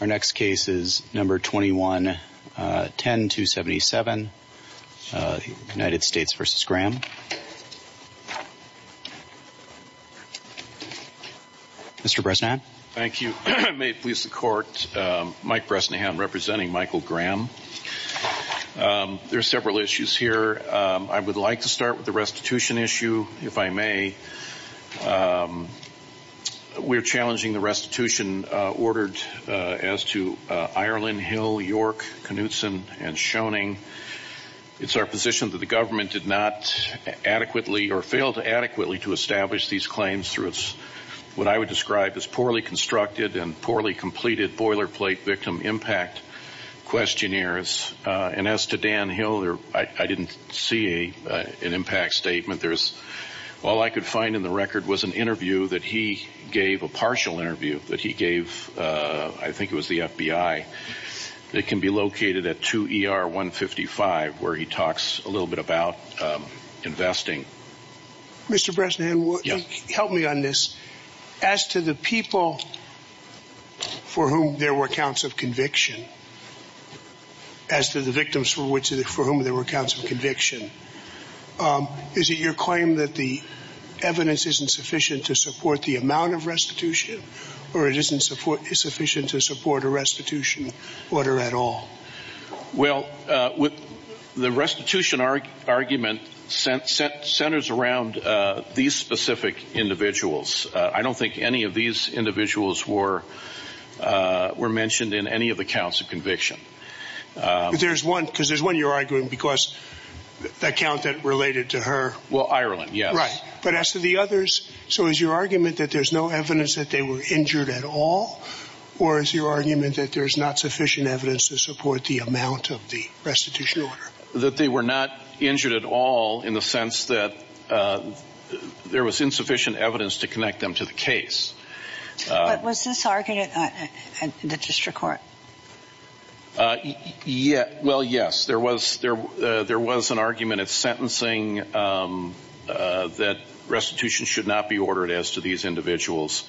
Our next case is No. 21-10-277, United States v. Graham. Mr. Bresnahan. Thank you. May it please the Court, Mike Bresnahan representing Michael Graham. There are several issues here. I would like to start with the restitution issue, if I may. We're challenging the restitution ordered as to Ireland, Hill, York, Knutson, and Schoening. It's our position that the government did not adequately or failed to adequately to establish these claims through what I would describe as poorly constructed and poorly completed boilerplate victim impact questionnaires. And as to Dan Hill, I didn't see an impact statement. All I could find in the record was an interview that he gave, a partial interview that he gave, I think it was the FBI, that can be located at 2 ER 155, where he talks a little bit about investing. Mr. Bresnahan, help me on this. As to the people for whom there were counts of conviction, as to the victims for whom there were counts of conviction, is it your claim that the evidence isn't sufficient to support the amount of restitution or it isn't sufficient to support a restitution order at all? Well, the restitution argument centers around these specific individuals. I don't think any of these individuals were mentioned in any of the counts of conviction. There's one, because there's one you're arguing, because that count that related to her. Well, Ireland, yes. Right. But as to the others, so is your argument that there's no evidence that they were injured at all? Or is your argument that there's not sufficient evidence to support the amount of the restitution order? That they were not injured at all in the sense that there was insufficient evidence to connect them to the case. Was this argument at the district court? Well, yes, there was an argument at sentencing that restitution should not be ordered as to these individuals.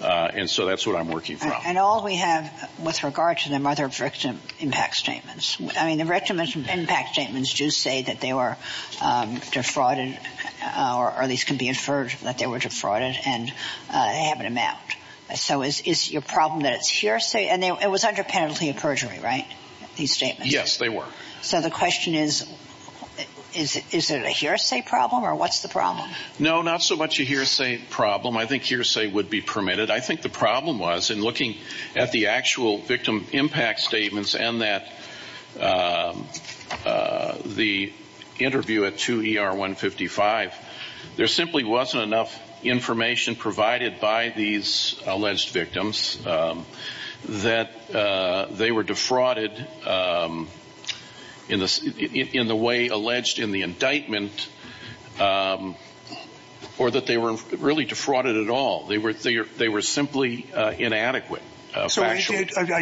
And so that's what I'm working from. And all we have with regard to them are their victim impact statements. I mean, the victim impact statements do say that they were defrauded, or at least can be inferred that they were defrauded, and they have an amount. So is your problem that it's hearsay? And it was under penalty of perjury, right, these statements? Yes, they were. No, not so much a hearsay problem. I think hearsay would be permitted. I think the problem was, in looking at the actual victim impact statements and the interview at 2 ER 155, there simply wasn't enough information provided by these alleged victims that they were defrauded in the way alleged in the indictment, or that they were really defrauded at all. They were simply inadequate. So I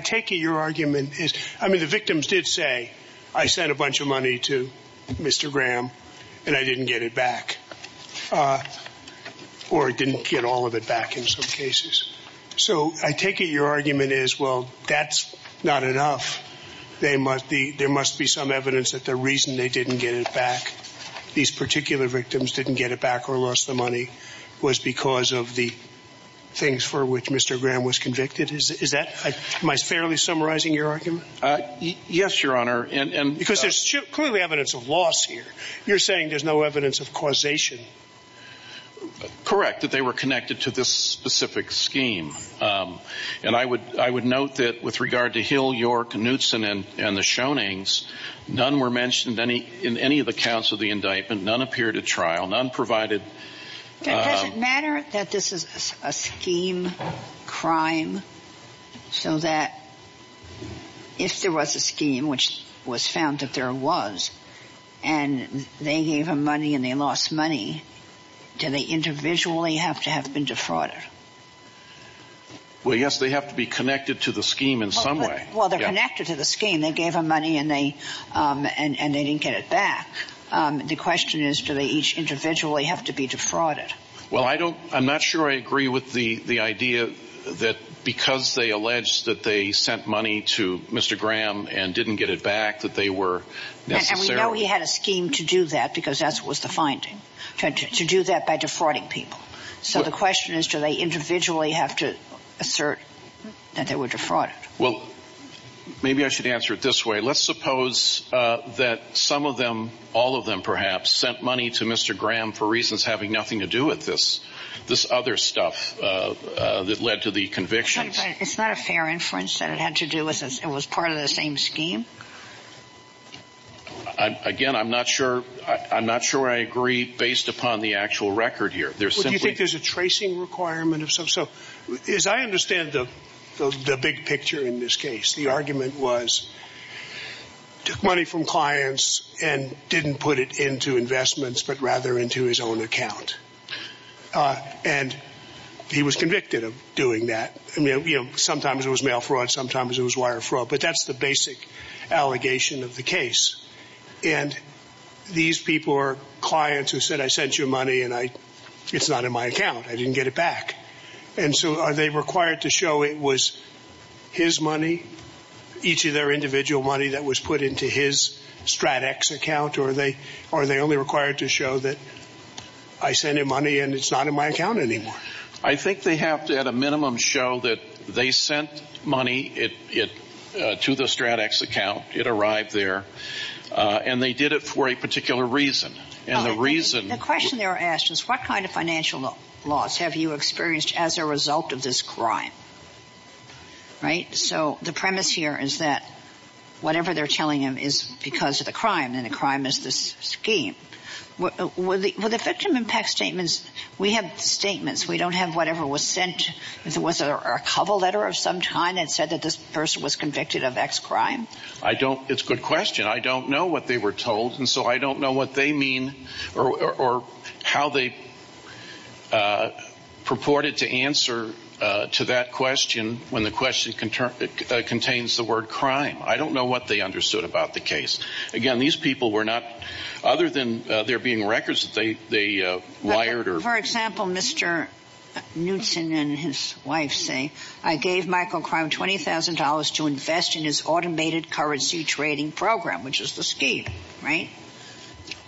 take it your argument is, I mean, the victims did say, I sent a bunch of money to Mr. Graham, and I didn't get it back, or didn't get all of it back in some cases. So I take it your argument is, well, that's not enough. There must be some evidence that the reason they didn't get it back, these particular victims didn't get it back or lost the money, was because of the things for which Mr. Graham was convicted? Is that, am I fairly summarizing your argument? Yes, Your Honor. Because there's clearly evidence of loss here. You're saying there's no evidence of causation. Correct, that they were connected to this specific scheme. And I would note that with regard to Hill, York, Knutson, and the Schoenings, none were mentioned in any of the counts of the indictment, none appeared at trial, none provided- Does it matter that this is a scheme crime, so that if there was a scheme, which was found that there was, and they gave them money and they lost money, do they individually have to have been defrauded? Well, yes, they have to be connected to the scheme in some way. Well, they're connected to the scheme. They gave them money and they didn't get it back. The question is, do they each individually have to be defrauded? Well, I don't, I'm not sure I agree with the idea that because they alleged that they sent money to Mr. Graham and didn't get it back, that they were necessarily- And we know he had a scheme to do that, because that's what was the finding, to do that by defrauding people. So the question is, do they individually have to assert that they were defrauded? Well, maybe I should answer it this way. Let's suppose that some of them, all of them perhaps, sent money to Mr. Graham for reasons having nothing to do with this, this other stuff that led to the convictions. It's not a fair inference that it had to do with this, it was part of the same scheme? Again, I'm not sure, I'm not sure I agree based upon the actual record here. There's simply- Do you think there's a tracing requirement of some? So as I understand the big picture in this case, the argument was, took money from clients and didn't put it into investments, but rather into his own account. And he was convicted of doing that. You know, sometimes it was mail fraud, sometimes it was wire fraud, but that's the basic allegation of the case. And these people are clients who said, I sent you money and it's not in my account, I didn't get it back. And so are they required to show it was his money, each of their individual money that was put into his StratEx account, or are they only required to show that I sent him money and it's not in my account anymore? I think they have to, at a minimum, show that they sent money to the StratEx account, it arrived there, and they did it for a particular reason. And the reason- The question they were asked is, what kind of financial loss have you experienced as a result of this crime, right? So the premise here is that whatever they're telling him is because of the crime, and the crime is this scheme. Were the victim impact statements, we have statements, we don't have whatever was sent, was there a cover letter of some kind that said that this person was convicted of X crime? I don't, it's a good question, I don't know what they were told, and so I don't know what they mean, or how they purported to answer to that question when the question contains the word crime. I don't know what they understood about the case. Again, these people were not, other than there being records that they wired or- For example, Mr. Knutson and his wife say, I gave Michael Crown $20,000 to invest in his automated currency trading program, which is the scheme, right?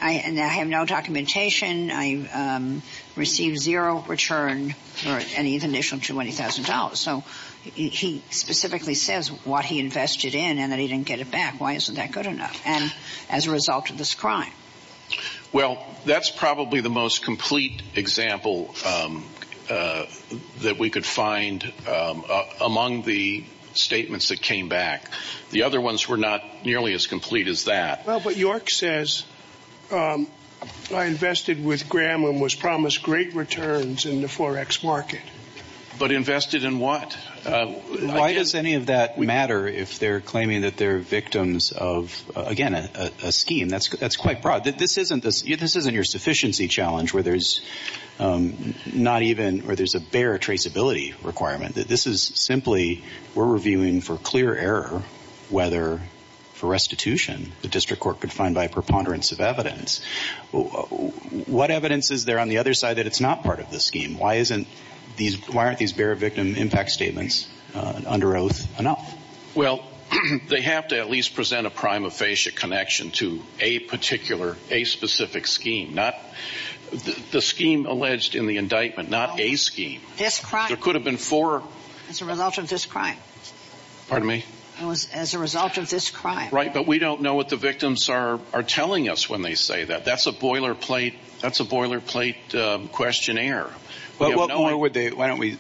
And I have no documentation, I received zero return for any of the initial $20,000. So he specifically says what he invested in and that he didn't get it back, why isn't that good enough? And as a result of this crime. Well, that's probably the most complete example that we could find among the statements that came back. The other ones were not nearly as complete as that. Well, but York says, I invested with Graham and was promised great returns in the Forex market. But invested in what? Why does any of that matter if they're claiming that they're victims of, again, a scheme? That's quite broad. This isn't your sufficiency challenge where there's not even, or there's a bare traceability requirement. This is simply, we're reviewing for clear error, whether for restitution, the district court could find by a preponderance of evidence. What evidence is there on the other side that it's not part of the scheme? Why aren't these bare victim impact statements under oath enough? Well, they have to at least present a prima facie connection to a particular, a specific scheme. Not the scheme alleged in the indictment, not a scheme. This crime. There could have been four. As a result of this crime. Pardon me? It was as a result of this crime. Right, but we don't know what the victims are telling us when they say that. That's a boilerplate, that's a boilerplate questionnaire. But what more would they, why don't we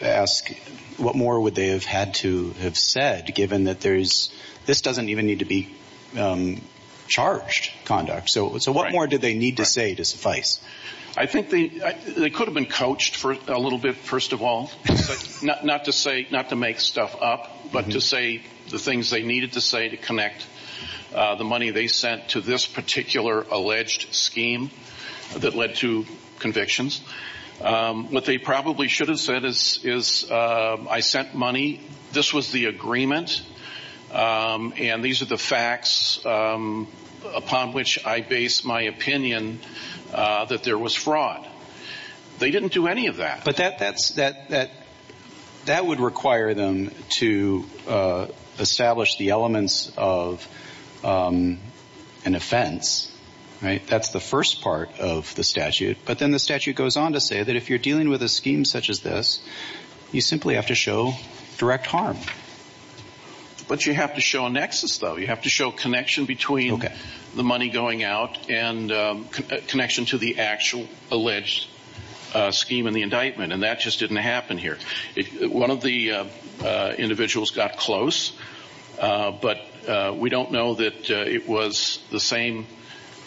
ask, what more would they have had to have said given that there's, this doesn't even need to be charged conduct. So what more do they need to say to suffice? I think they could have been coached for a little bit, first of all. Not to say, not to make stuff up, but to say the things they needed to say to connect the money they sent to this particular alleged scheme that led to convictions. What they probably should have said is, I sent money, this was the agreement, and these are the facts upon which I base my opinion that there was fraud. They didn't do any of that. But that would require them to establish the elements of an offense. That's the first part of the statute, but then the statute goes on to say that if you're dealing with a scheme such as this, you simply have to show direct harm. But you have to show a nexus though, you have to show a connection between the money going out and a connection to the actual alleged scheme in the indictment. And that just didn't happen here. One of the individuals got close, but we don't know that it was the same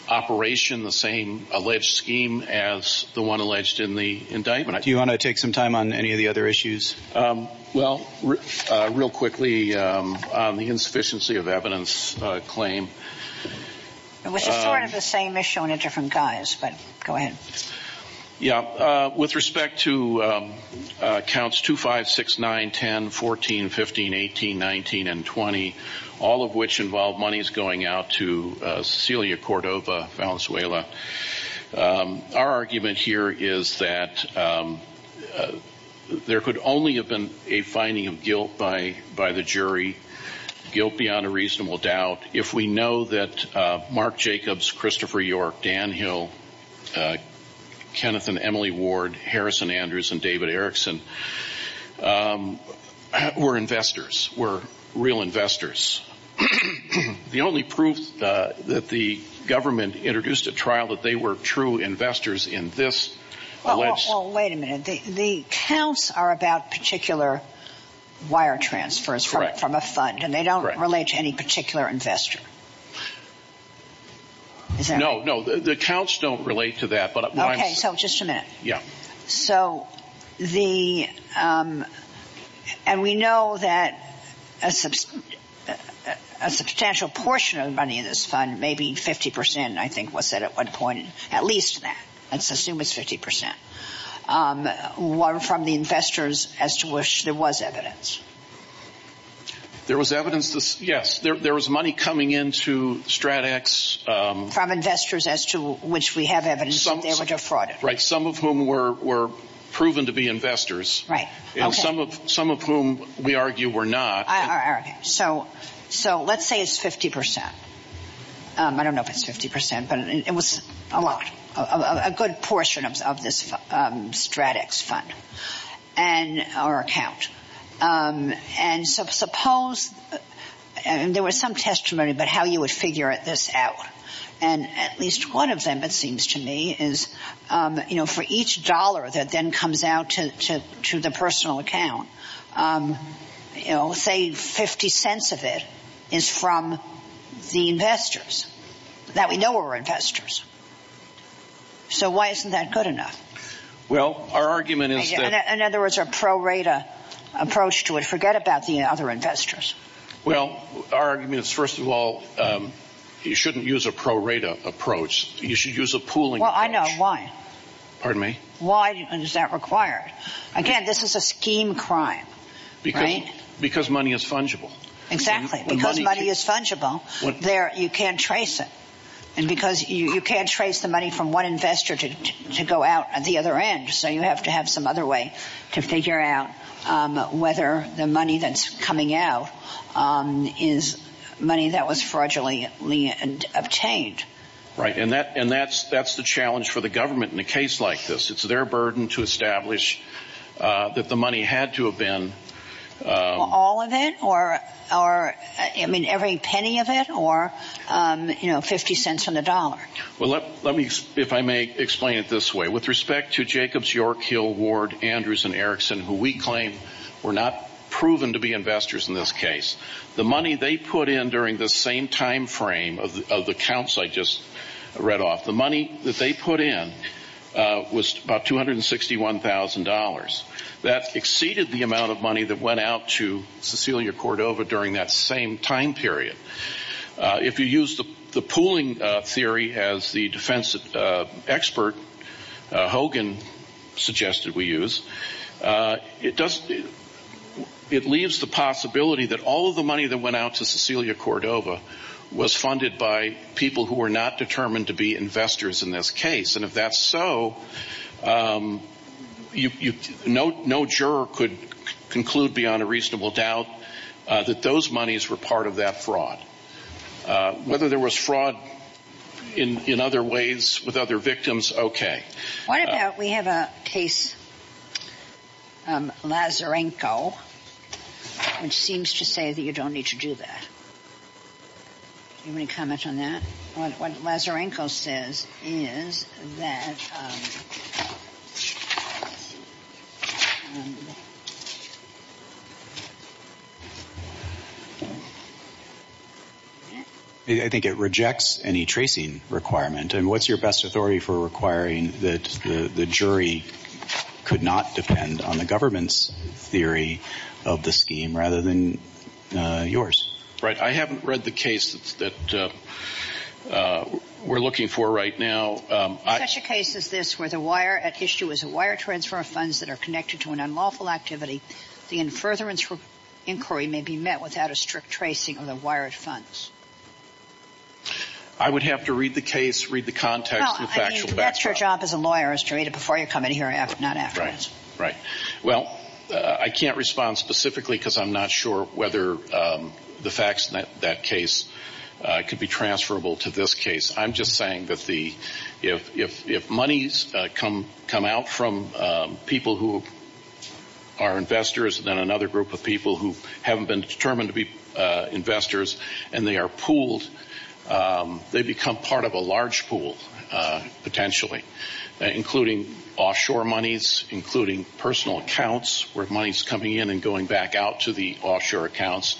operation, the same alleged scheme as the one alleged in the indictment. Do you want to take some time on any of the other issues? Well, real quickly, on the insufficiency of evidence claim. It was sort of the same issue on a different guise, but go ahead. With respect to counts 2, 5, 6, 9, 10, 14, 15, 18, 19, and 20, all of which involve monies going out to Cecilia Cordova Valenzuela, our argument here is that there could only have been a finding of guilt by the jury, guilt beyond a reasonable doubt. If we know that Mark Jacobs, Christopher York, Dan Hill, Kenneth and Emily Ward, Harrison Andrews and David Erickson were investors, were real investors. The only proof that the government introduced a trial that they were true investors in this alleged... Well, wait a minute. The counts are about particular wire transfers from a fund, and they don't relate to any particular investor. No, no, the counts don't relate to that, but what I'm saying... Okay, so just a minute. Yeah. So the, and we know that a substantial portion of the money in this fund, maybe 50%, I think was said at one point, at least that, let's assume it's 50%, were from the investors as to which there was evidence. There was evidence, yes, there was money coming into StratEx... From investors as to which we have evidence that they were defrauded. Right, some of whom were proven to be investors. Right, okay. And some of whom we argue were not. Okay, so let's say it's 50%. I don't know if it's 50%, but it was a lot, a good portion of this StratEx fund, and our account. And so suppose, and there was some testimony about how you would figure this out, and at least one of them, it seems to me, is for each dollar that then comes out to the personal account, say 50 cents of it is from the investors, that we know were investors. So why isn't that good enough? Well, our argument is that... In other words, a pro-rata approach to it, forget about the other investors. Well, our argument is first of all, you shouldn't use a pro-rata approach, you should use a pooling approach. Well, I know, why? Pardon me? Why is that required? Again, this is a scheme crime, right? Because money is fungible. Exactly, because money is fungible, you can't trace it. And because you can't trace the money from one investor to go out the other end, so you have to have some other way to figure out whether the money that's coming out is money that was fraudulently obtained. Right, and that's the challenge for the government in a case like this. It's their burden to establish that the money had to have been... All of it? Or, I mean, every penny of it? Or, you know, 50 cents on the dollar? Well, let me, if I may explain it this way. With respect to Jacobs, York, Hill, Ward, Andrews, and Erickson, who we claim were not proven to be investors in this case, the money they put in during the same time frame of the counts I just read off, the money that they put in was about $261,000. That exceeded the amount of money that went out to Cecilia Cordova during that same time period. If you use the pooling theory as the defense expert, Hogan, suggested we use, it leaves the possibility that all of the money that went out to Cecilia Cordova was funded by people who were not determined to be investors in this case. And if that's so, no juror could conclude beyond a reasonable doubt that those monies were part of that fraud. Whether there was fraud in other ways with other victims, okay. What about, we have a case, Lazarenko, which seems to say that you don't need to do that. Do you have any comment on that? What Lazarenko says is that... I think it rejects any tracing requirement. And what's your best authority for requiring that the jury could not depend on the government's theory of the scheme rather than yours? Right, I haven't read the case that we're looking for right now. Such a case as this where the wire at issue is a wire transfer of funds that are connected to an unlawful activity, the in furtherance inquiry may be met without a strict tracing of the wired funds. I would have to read the case, read the context. Well, I mean, that's your job as a lawyer is to read it before you come in here, not afterwards. Well, I can't respond specifically because I'm not sure whether the facts in that case could be transferable to this case. I'm just saying that if monies come out from people who are investors and then another group of people who haven't been determined to be investors and they are pooled, they accounts where money's coming in and going back out to the offshore accounts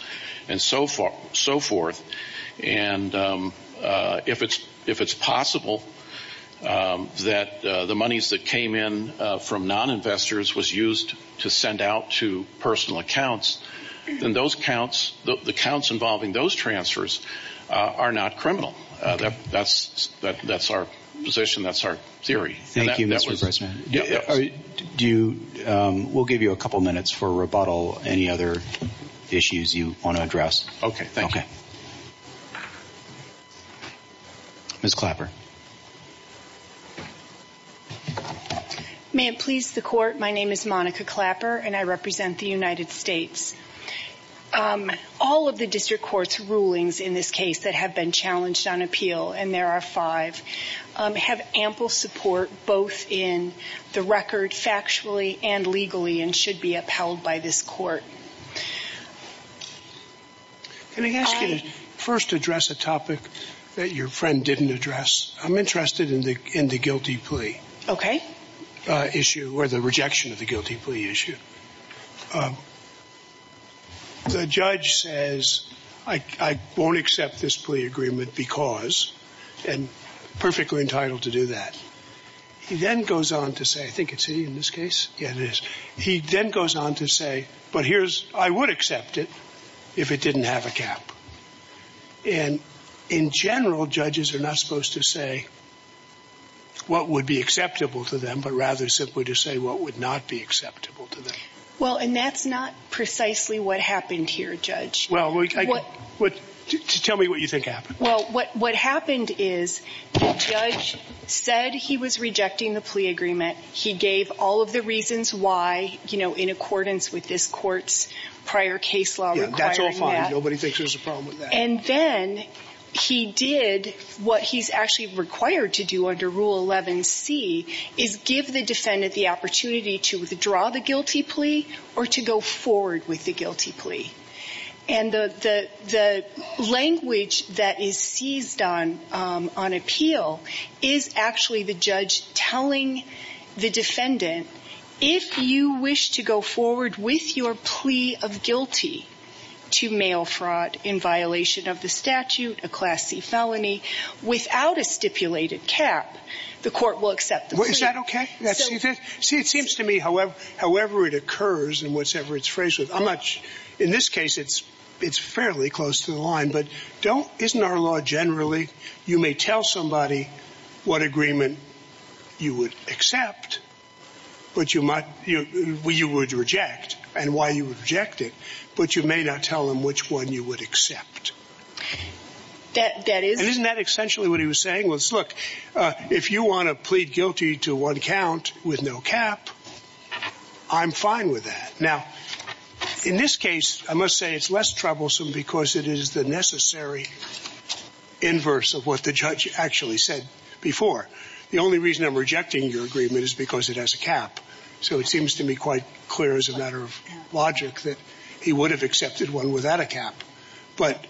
and so forth. And if it's possible that the monies that came in from non-investors was used to send out to personal accounts, then those accounts, the accounts involving those transfers are not criminal. That's our position. That's our theory. Thank you, Mr. President. We'll give you a couple minutes for rebuttal. Any other issues you want to address? Okay, thank you. Ms. Clapper. May it please the court, my name is Monica Clapper and I represent the United States. All of the district court's rulings in this case that have been challenged on appeal, and there are five, have ample support both in the record factually and legally and should be upheld by this court. Can I ask you to first address a topic that your friend didn't address? I'm interested in the guilty plea issue or the rejection of the guilty plea issue. The judge says, I won't accept this plea agreement because, and perfectly entitled to do that. He then goes on to say, I think it's he in this case? Yeah, it is. He then goes on to say, but here's, I would accept it if it didn't have a cap. And in general, judges are not supposed to say what would be acceptable to them, but rather simply to say what would not be acceptable to them. Well, and that's not precisely what happened here, Judge. Well, tell me what you think happened. Well, what happened is the judge said he was rejecting the plea agreement. He gave all of the reasons why, you know, in accordance with this court's prior case law requiring that. Yeah, that's all fine. Nobody thinks there's a problem with that. And then he did what he's actually required to do under Rule 11C, is give the defendant the opportunity to withdraw the guilty plea or to go forward with the guilty plea. And the language that is seized on appeal is actually the judge telling the defendant, if you wish to go forward with your plea of guilty to mail fraud in violation of the statute, a Class C felony, without a stipulated cap, the court will accept the plea. Is that okay? See, it seems to me, however it occurs and whatsoever it's phrased, I'm not sure. In this case, it's fairly close to the line. But isn't our law generally you may tell somebody what agreement you would accept, what you would reject and why you would reject it, but you may not tell them which one you would accept? That is. And isn't that essentially what he was saying? Look, if you want to plead guilty to one count with no cap, I'm fine with that. Now, in this case, I must say it's less troublesome because it is the necessary inverse of what the judge actually said before. The only reason I'm rejecting your agreement is because it has a cap. So it seems to me quite clear as a matter of logic that he would have accepted one without a cap. But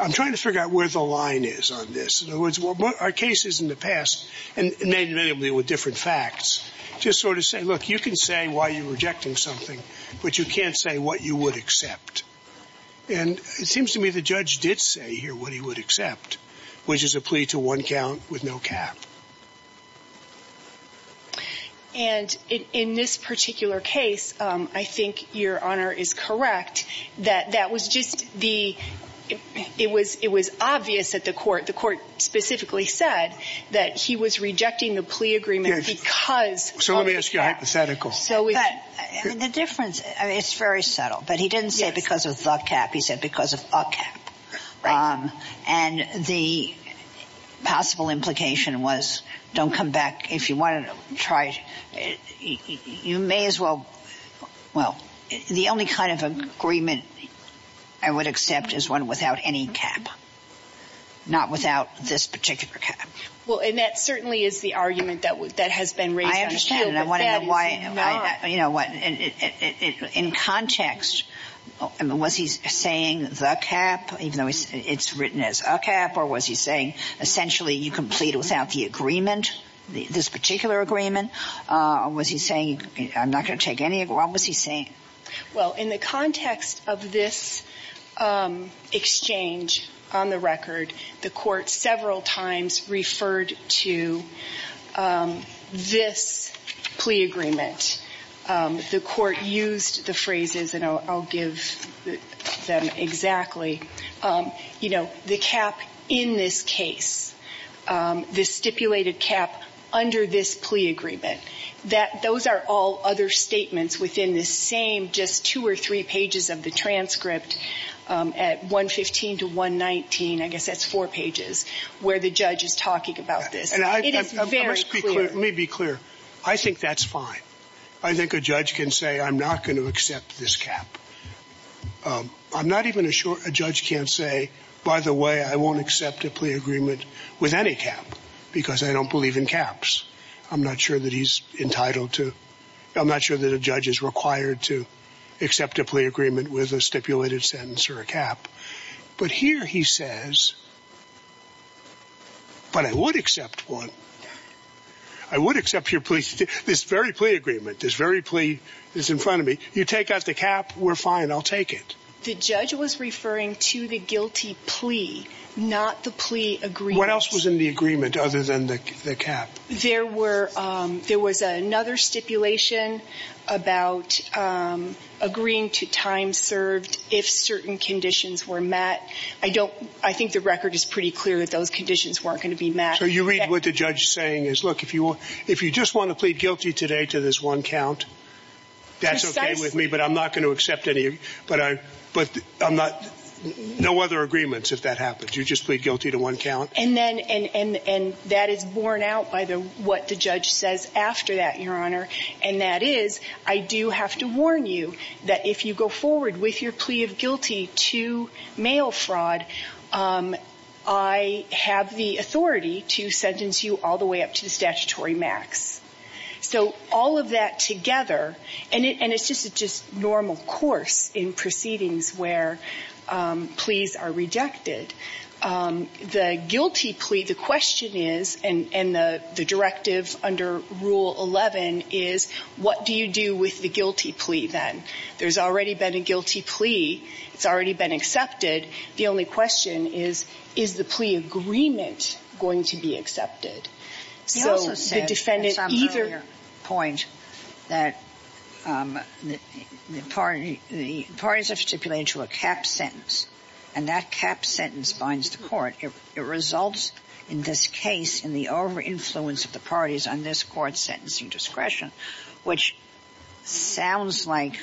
I'm trying to figure out where the line is on this. In other words, our cases in the past, and they were different facts, just sort of say, look, you can say why you're rejecting something, but you can't say what you would accept. And it seems to me the judge did say here what he would accept, which is a plea to one count with no cap. And in this particular case, I think Your Honor is correct. That that was just the it was it was obvious that the court the court specifically said that he was rejecting the plea agreement because. So let me ask you a hypothetical. So the difference is very subtle. But he didn't say because of the cap, he said because of a cap. And the possible implication was don't come back if you want to try. You may as well. Well, the only kind of agreement I would accept is one without any cap. Not without this particular cap. Well, and that certainly is the argument that that has been raised. I understand. I want to know why. You know what? In context, was he saying the cap, even though it's written as a cap? Or was he saying essentially you complete without the agreement, this particular agreement? Was he saying I'm not going to take any? What was he saying? Well, in the context of this exchange on the record, the court several times referred to this plea agreement. The court used the phrases and I'll give them exactly. You know, the cap in this case, the stipulated cap under this plea agreement, that those are all other statements within the same just two or three pages of the transcript at 115 to 119. I guess that's four pages where the judge is talking about this. And it is very clear. Let me be clear. I think that's fine. I think a judge can say I'm not going to accept this cap. I'm not even sure a judge can say, by the way, I won't accept a plea agreement with any cap because I don't believe in caps. I'm not sure that he's entitled to. I'm not sure that a judge is required to accept a plea agreement with a stipulated sentence or a cap. But here he says. But I would accept one. I would accept your plea. This very plea agreement, this very plea is in front of me. You take out the cap. We're fine. I'll take it. The judge was referring to the guilty plea, not the plea agreement. What else was in the agreement other than the cap? There were there was another stipulation about agreeing to time served if certain conditions were met. I don't I think the record is pretty clear that those conditions weren't going to be met. So you read what the judge saying is, look, if you if you just want to plead guilty today to this one count. That's OK with me, but I'm not going to accept any. But I but I'm not no other agreements. If that happens, you just plead guilty to one count. And then and that is borne out by what the judge says after that, Your Honor. And that is, I do have to warn you that if you go forward with your plea of guilty to mail fraud, I have the authority to sentence you all the way up to the statutory max. So all of that together, and it's just a just normal course in proceedings where pleas are rejected. The guilty plea, the question is, and the directive under Rule 11 is, what do you do with the guilty plea? Then there's already been a guilty plea. It's already been accepted. The only question is, is the plea agreement going to be accepted? So the defendant either point that the party, the parties have stipulated to a cap sentence and that cap sentence binds the court. It results in this case in the over influence of the parties on this court sentencing discretion, which sounds like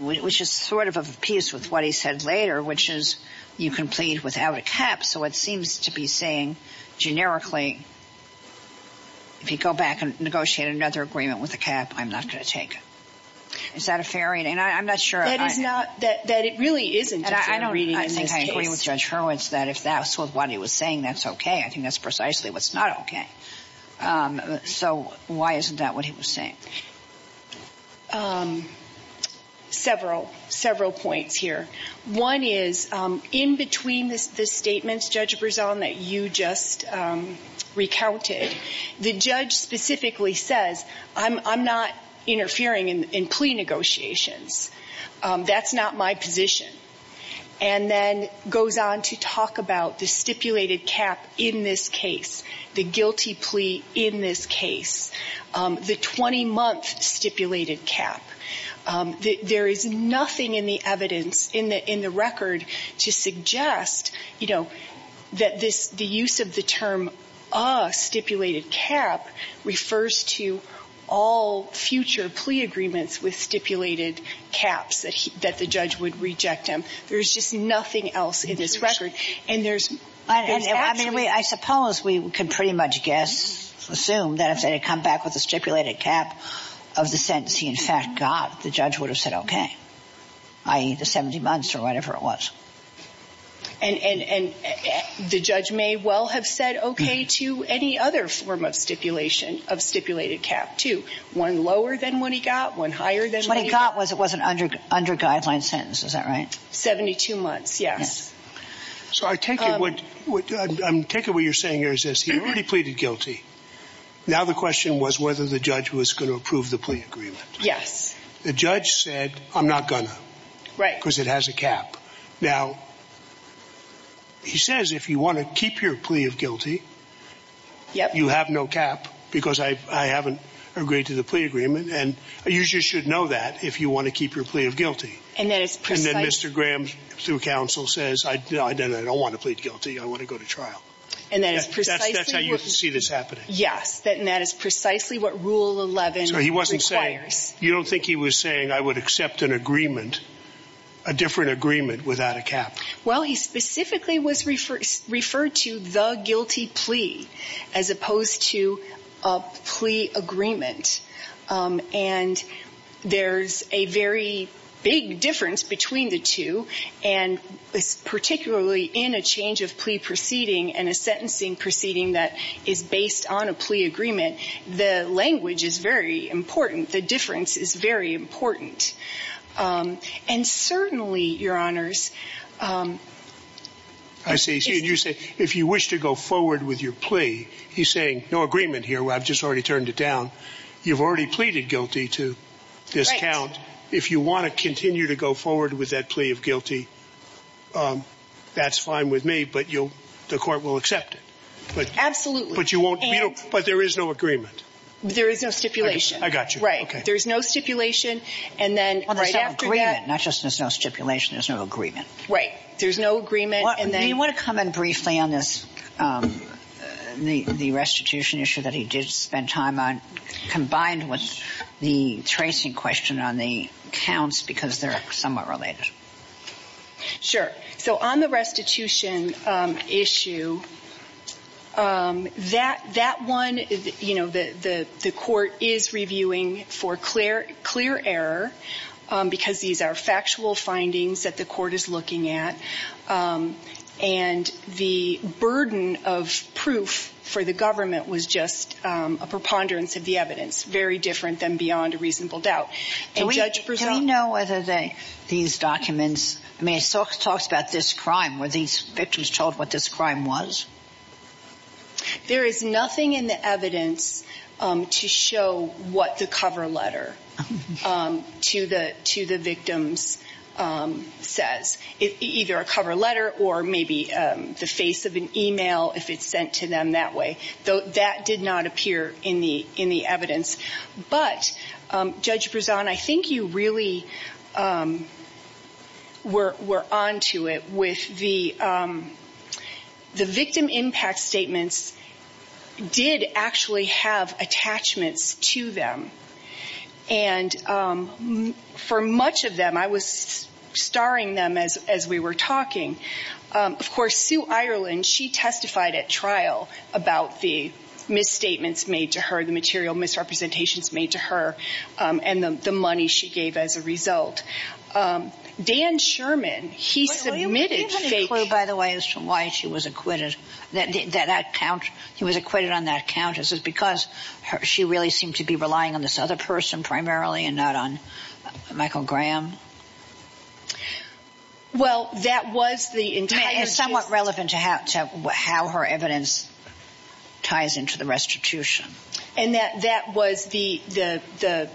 which is sort of a piece with what he said later, which is you can plead without a cap. So it seems to be saying generically. If you go back and negotiate another agreement with a cap, I'm not going to take it. Is that a fair reading? And I'm not sure it is not that it really isn't. I don't think I agree with Judge Hurwitz that if that's what he was saying, that's OK. I think that's precisely what's not OK. So why isn't that what he was saying? Several, several points here. One is in between the statements, Judge Brisson, that you just recounted, the judge specifically says, I'm not interfering in plea negotiations. That's not my position. And then goes on to talk about the stipulated cap in this case, the guilty plea in this case, the 20 month stipulated cap. There is nothing in the evidence in the in the record to suggest, you know, that this the use of the term stipulated cap refers to all future plea agreements with stipulated caps that that the judge would reject him. There's just nothing else in this record. And there's. I mean, I suppose we can pretty much guess, assume that if they come back with a stipulated cap of the sentencing, in fact, God, the judge would have said, OK, I eat the 70 months or whatever it was. And the judge may well have said OK to any other form of stipulation of stipulated cap to one lower than what he got, one higher than what he got was it was an under under guideline sentence. Is that right? Seventy two months. Yes. So I take what I'm taking. What you're saying is he already pleaded guilty. Now, the question was whether the judge was going to approve the plea agreement. Yes. The judge said, I'm not going to write because it has a cap. Now, he says, if you want to keep your plea of guilty, you have no cap because I haven't agreed to the plea agreement. And you should know that if you want to keep your plea of guilty. And that is Mr. Graham through counsel says, I don't want to plead guilty. I want to go to trial. And that is precisely what you see that's happening. Yes. And that is precisely what rule 11 requires. You don't think he was saying I would accept an agreement, a different agreement without a cap? Well, he specifically was referred to the guilty plea as opposed to a plea agreement. And there's a very big difference between the two. And particularly in a change of plea proceeding and a sentencing proceeding that is based on a plea agreement. The language is very important. The difference is very important. And certainly, your honors. I see you say if you wish to go forward with your plea, he's saying no agreement here. I've just already turned it down. You've already pleaded guilty to this account. If you want to continue to go forward with that plea of guilty. That's fine with me, but you'll the court will accept it. But absolutely. But you won't. But there is no agreement. There is no stipulation. I got you. Right. There's no stipulation. And then not just stipulation. There's no agreement. Right. There's no agreement. And then you want to come in briefly on this. The restitution issue that he did spend time on combined with the tracing question on the counts, because they're somewhat related. Sure. So on the restitution issue. That that one, you know, the court is reviewing for clear, clear error because these are factual findings that the court is looking at. And the burden of proof for the government was just a preponderance of the evidence. Very different than beyond a reasonable doubt. Do we know whether these documents, I mean, it talks about this crime where these victims told what this crime was. There is nothing in the evidence to show what the cover letter to the to the victims says. It's either a cover letter or maybe the face of an email if it's sent to them that way, though, that did not appear in the in the evidence. But Judge Brisson, I think you really were on to it with the the victim impact statements did actually have attachments to them. And for much of them, I was starring them as as we were talking. Of course, Sue Ireland, she testified at trial about the misstatements made to her, the material misrepresentations made to her and the money she gave as a result. Dan Sherman, he submitted by the way, is from why she was acquitted that that count. He was acquitted on that count. This is because she really seemed to be relying on this other person primarily and not on Michael Graham. Well, that was the entire somewhat relevant to how to how her evidence ties into the restitution. And that that was the the the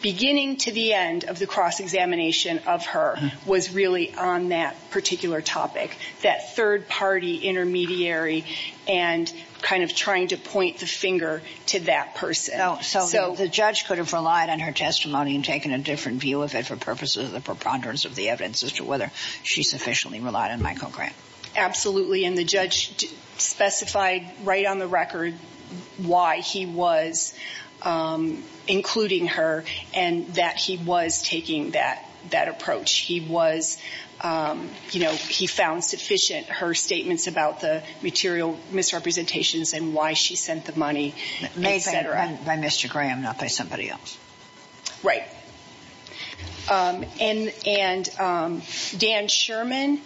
beginning to the end of the cross examination of her was really on that particular topic. That third party intermediary and kind of trying to point the finger to that person. So the judge could have relied on her testimony and taken a different view of it for purposes of the preponderance of the evidence as to whether she sufficiently relied on Michael Graham. Absolutely. And the judge specified right on the record why he was including her and that he was taking that that approach. He was you know, he found sufficient her statements about the material misrepresentations and why she sent the money. They said by Mr. Graham, not by somebody else. Right. And and Dan Sherman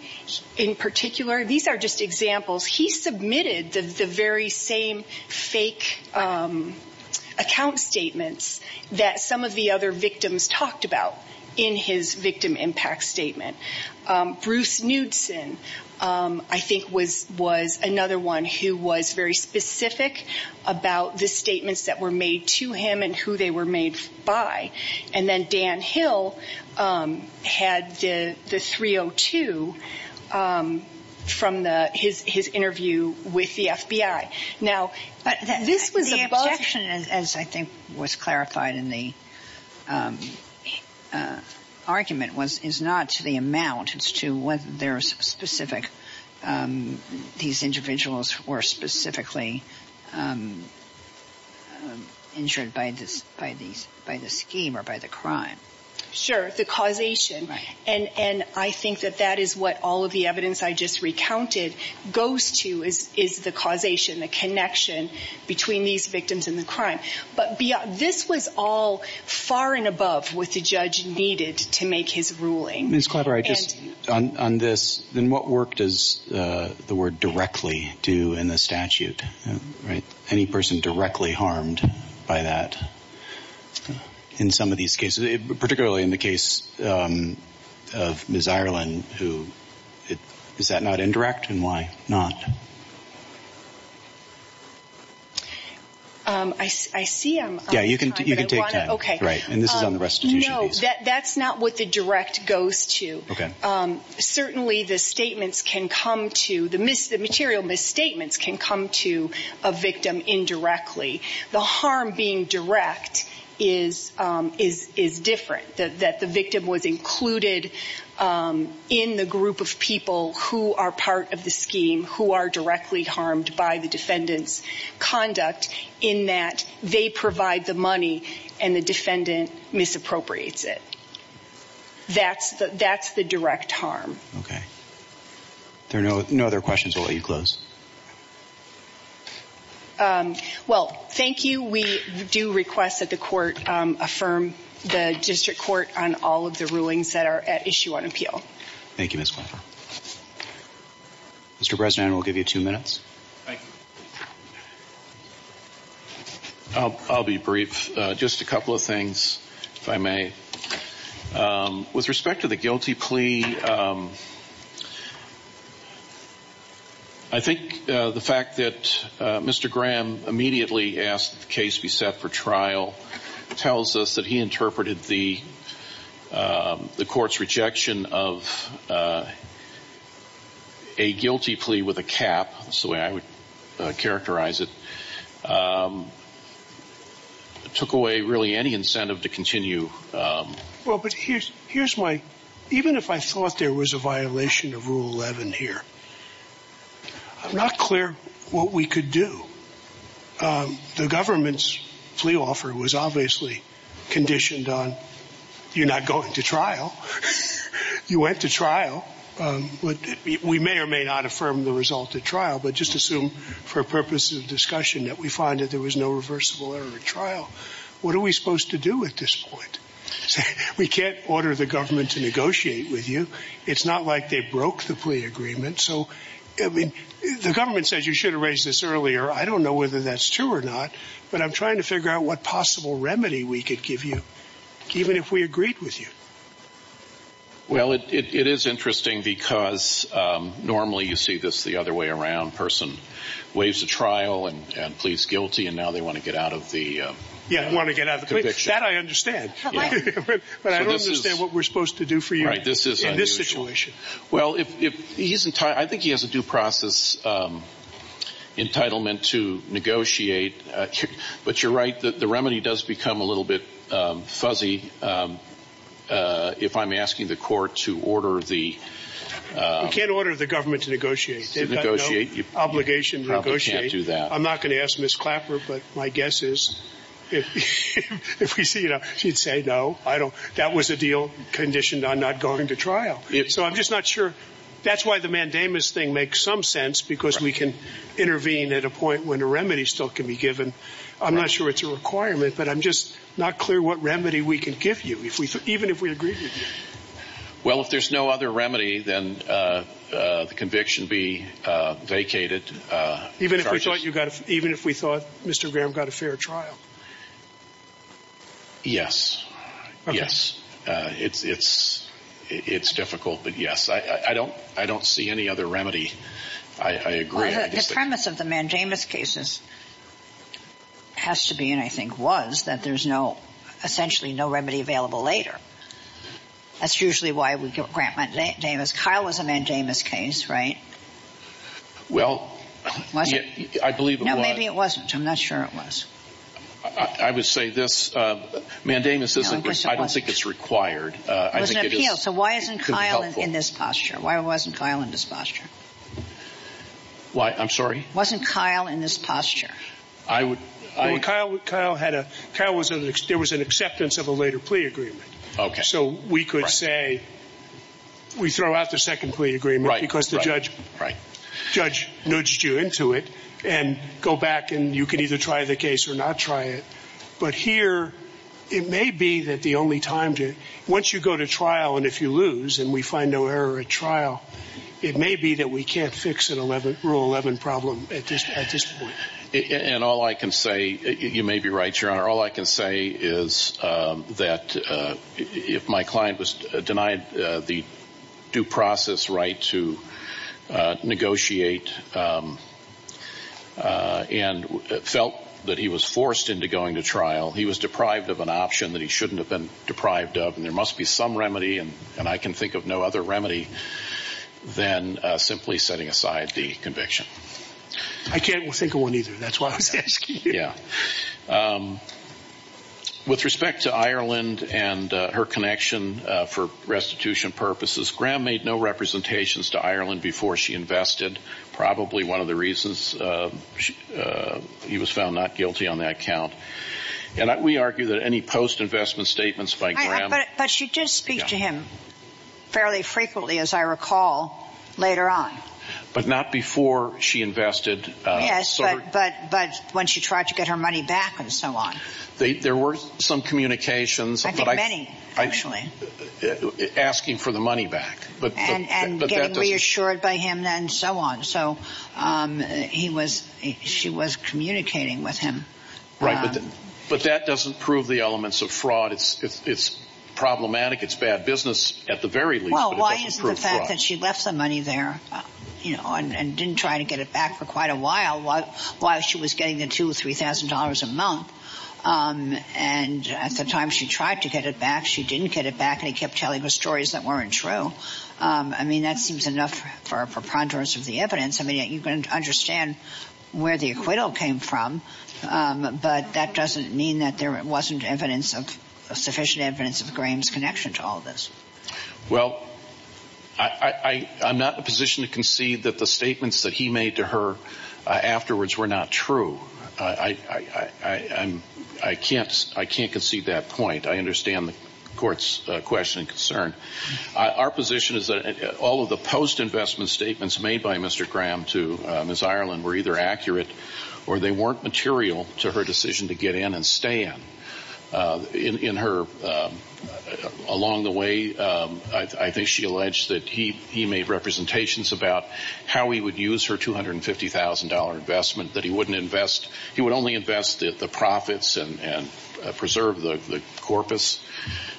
in particular, these are just examples. He submitted the very same fake account statements that some of the other victims talked about in his victim impact statement. Bruce Knudsen, I think, was was another one who was very specific about the statements that were made to him and who they were made by. And then Dan Hill had the 302 from the his his interview with the FBI. Now, this was the objection, as I think was clarified in the argument, was is not to the amount. It's to what there is specific. These individuals were specifically injured by this, by these by the scheme or by the crime. Sure. The causation. And I think that that is what all of the evidence I just recounted goes to is is the causation, the connection between these victims and the crime. But this was all far and above what the judge needed to make his ruling. On this, then what work does the word directly do in the statute? Right. Any person directly harmed by that in some of these cases, particularly in the case of Miss Ireland, who is that not indirect? And why not? I see. Yeah, you can you can take time. OK, right. And this is on the restitution. No, that's not what the direct goes to. OK, certainly the statements can come to the miss. The material misstatements can come to a victim indirectly. The harm being direct is is is different that the victim was included in the group of people who are part of the scheme, who are directly harmed by the defendant's conduct in that they provide the money and the defendant misappropriates it. That's that's the direct harm. OK. There are no no other questions. Will you close? Well, thank you. We do request that the court affirm the district court on all of the rulings that are at issue on appeal. Thank you, Mr. President. We'll give you two minutes. I'll be brief. Just a couple of things, if I may. With respect to the guilty plea. I think the fact that Mr. Graham immediately asked the case be set for trial tells us that he interpreted the court's rejection of a guilty plea with a cap. So I would characterize it took away really any incentive to continue. Well, but here's here's my even if I thought there was a violation of Rule 11 here, I'm not clear what we could do. The government's plea offer was obviously conditioned on you're not going to trial. You went to trial. We may or may not affirm the result of trial, but just assume for purposes of discussion that we find that there was no reversible error trial. What are we supposed to do at this point? We can't order the government to negotiate with you. It's not like they broke the plea agreement. So I mean, the government says you should have raised this earlier. I don't know whether that's true or not, but I'm trying to figure out what possible remedy we could give you, even if we agreed with you. Well, it is interesting because normally you see this the other way around. Person waves a trial and pleads guilty. And now they want to get out of the. Yeah, I want to get out of that. I understand. But I don't understand what we're supposed to do for you. Well, if he's in time, I think he has a due process entitlement to negotiate. But you're right that the remedy does become a little bit fuzzy if I'm asking the court to order the can order the government to negotiate. Negotiate your obligation to negotiate. Do that. I'm not going to ask Miss Clapper. But my guess is if we see, you know, she'd say, no, I don't. That was a deal conditioned on not going to trial. So I'm just not sure. That's why the mandamus thing makes some sense, because we can intervene at a point when a remedy still can be given. I'm not sure it's a requirement, but I'm just not clear what remedy we can give you. If we even if we agree. Well, if there's no other remedy, then the conviction be vacated. Even if we thought you got it, even if we thought Mr. Graham got a fair trial. Yes. Yes. It's it's it's difficult. But yes, I don't I don't see any other remedy. I agree. The premise of the mandamus cases has to be and I think was that there's no essentially no remedy available later. That's usually why we grant mandamus. Kyle was a mandamus case, right? Well, I believe. No, maybe it wasn't. I'm not sure it was. I would say this mandamus. I don't think it's required. I think it is. So why isn't Kyle in this posture? Why wasn't Kyle in this posture? Why? I'm sorry. Wasn't Kyle in this posture? Kyle Kyle had a cow was there was an acceptance of a later plea agreement. So we could say we throw out the second plea agreement because the judge. Right. Judge nudged you into it and go back and you can either try the case or not try it. But here it may be that the only time to once you go to trial and if you lose and we find no error at trial, it may be that we can't fix it. 11 rule 11 problem at this point. And all I can say, you may be right, your honor. All I can say is that if my client was denied the due process right to negotiate and felt that he was forced into going to trial, he was deprived of an option that he shouldn't have been deprived of. And there must be some remedy. And I can think of no other remedy than simply setting aside the conviction. I can't think of one either. That's why I was asking. Yeah. With respect to Ireland and her connection for restitution purposes, Graham made no representations to Ireland before she invested. Probably one of the reasons he was found not guilty on that count. And we argue that any post-investment statements by Graham. But she did speak to him fairly frequently, as I recall, later on. But not before she invested. Yes, but but but when she tried to get her money back and so on. There were some communications. I think many actually. Asking for the money back. And getting reassured by him and so on. So he was she was communicating with him. Right. But that doesn't prove the elements of fraud. It's it's problematic. It's bad business at the very least. Well, why is the fact that she left some money there, you know, and didn't try to get it back for quite a while? Why? Why? She was getting the two or three thousand dollars a month. And at the time she tried to get it back, she didn't get it back. And he kept telling her stories that weren't true. I mean, that seems enough for preponderance of the evidence. I mean, you can understand where the acquittal came from. But that doesn't mean that there wasn't evidence of sufficient evidence of Graham's connection to all of this. Well, I I'm not in a position to concede that the statements that he made to her afterwards were not true. I I can't I can't concede that point. I understand the court's question and concern. Our position is that all of the post investment statements made by Mr. Graham to Miss Ireland were either accurate or they weren't material to her decision to get in and stay in her. Along the way, I think she alleged that he he made representations about how he would use her two hundred and fifty thousand dollar investment that he wouldn't invest. He would only invest the profits and preserve the corpus.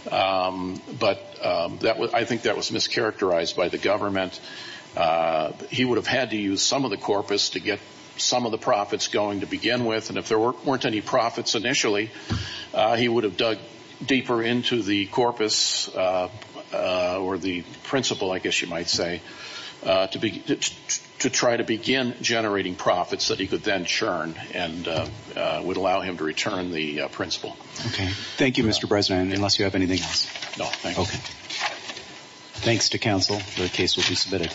But that I think that was mischaracterized by the government. He would have had to use some of the corpus to get some of the profits going to begin with. And if there weren't any profits initially, he would have dug deeper into the corpus or the principle, I guess you might say, to be to try to begin generating profits that he could then churn and would allow him to return the principle. OK, thank you, Mr. President, unless you have anything else. No, thank you. OK, thanks to counsel. The case will be submitted.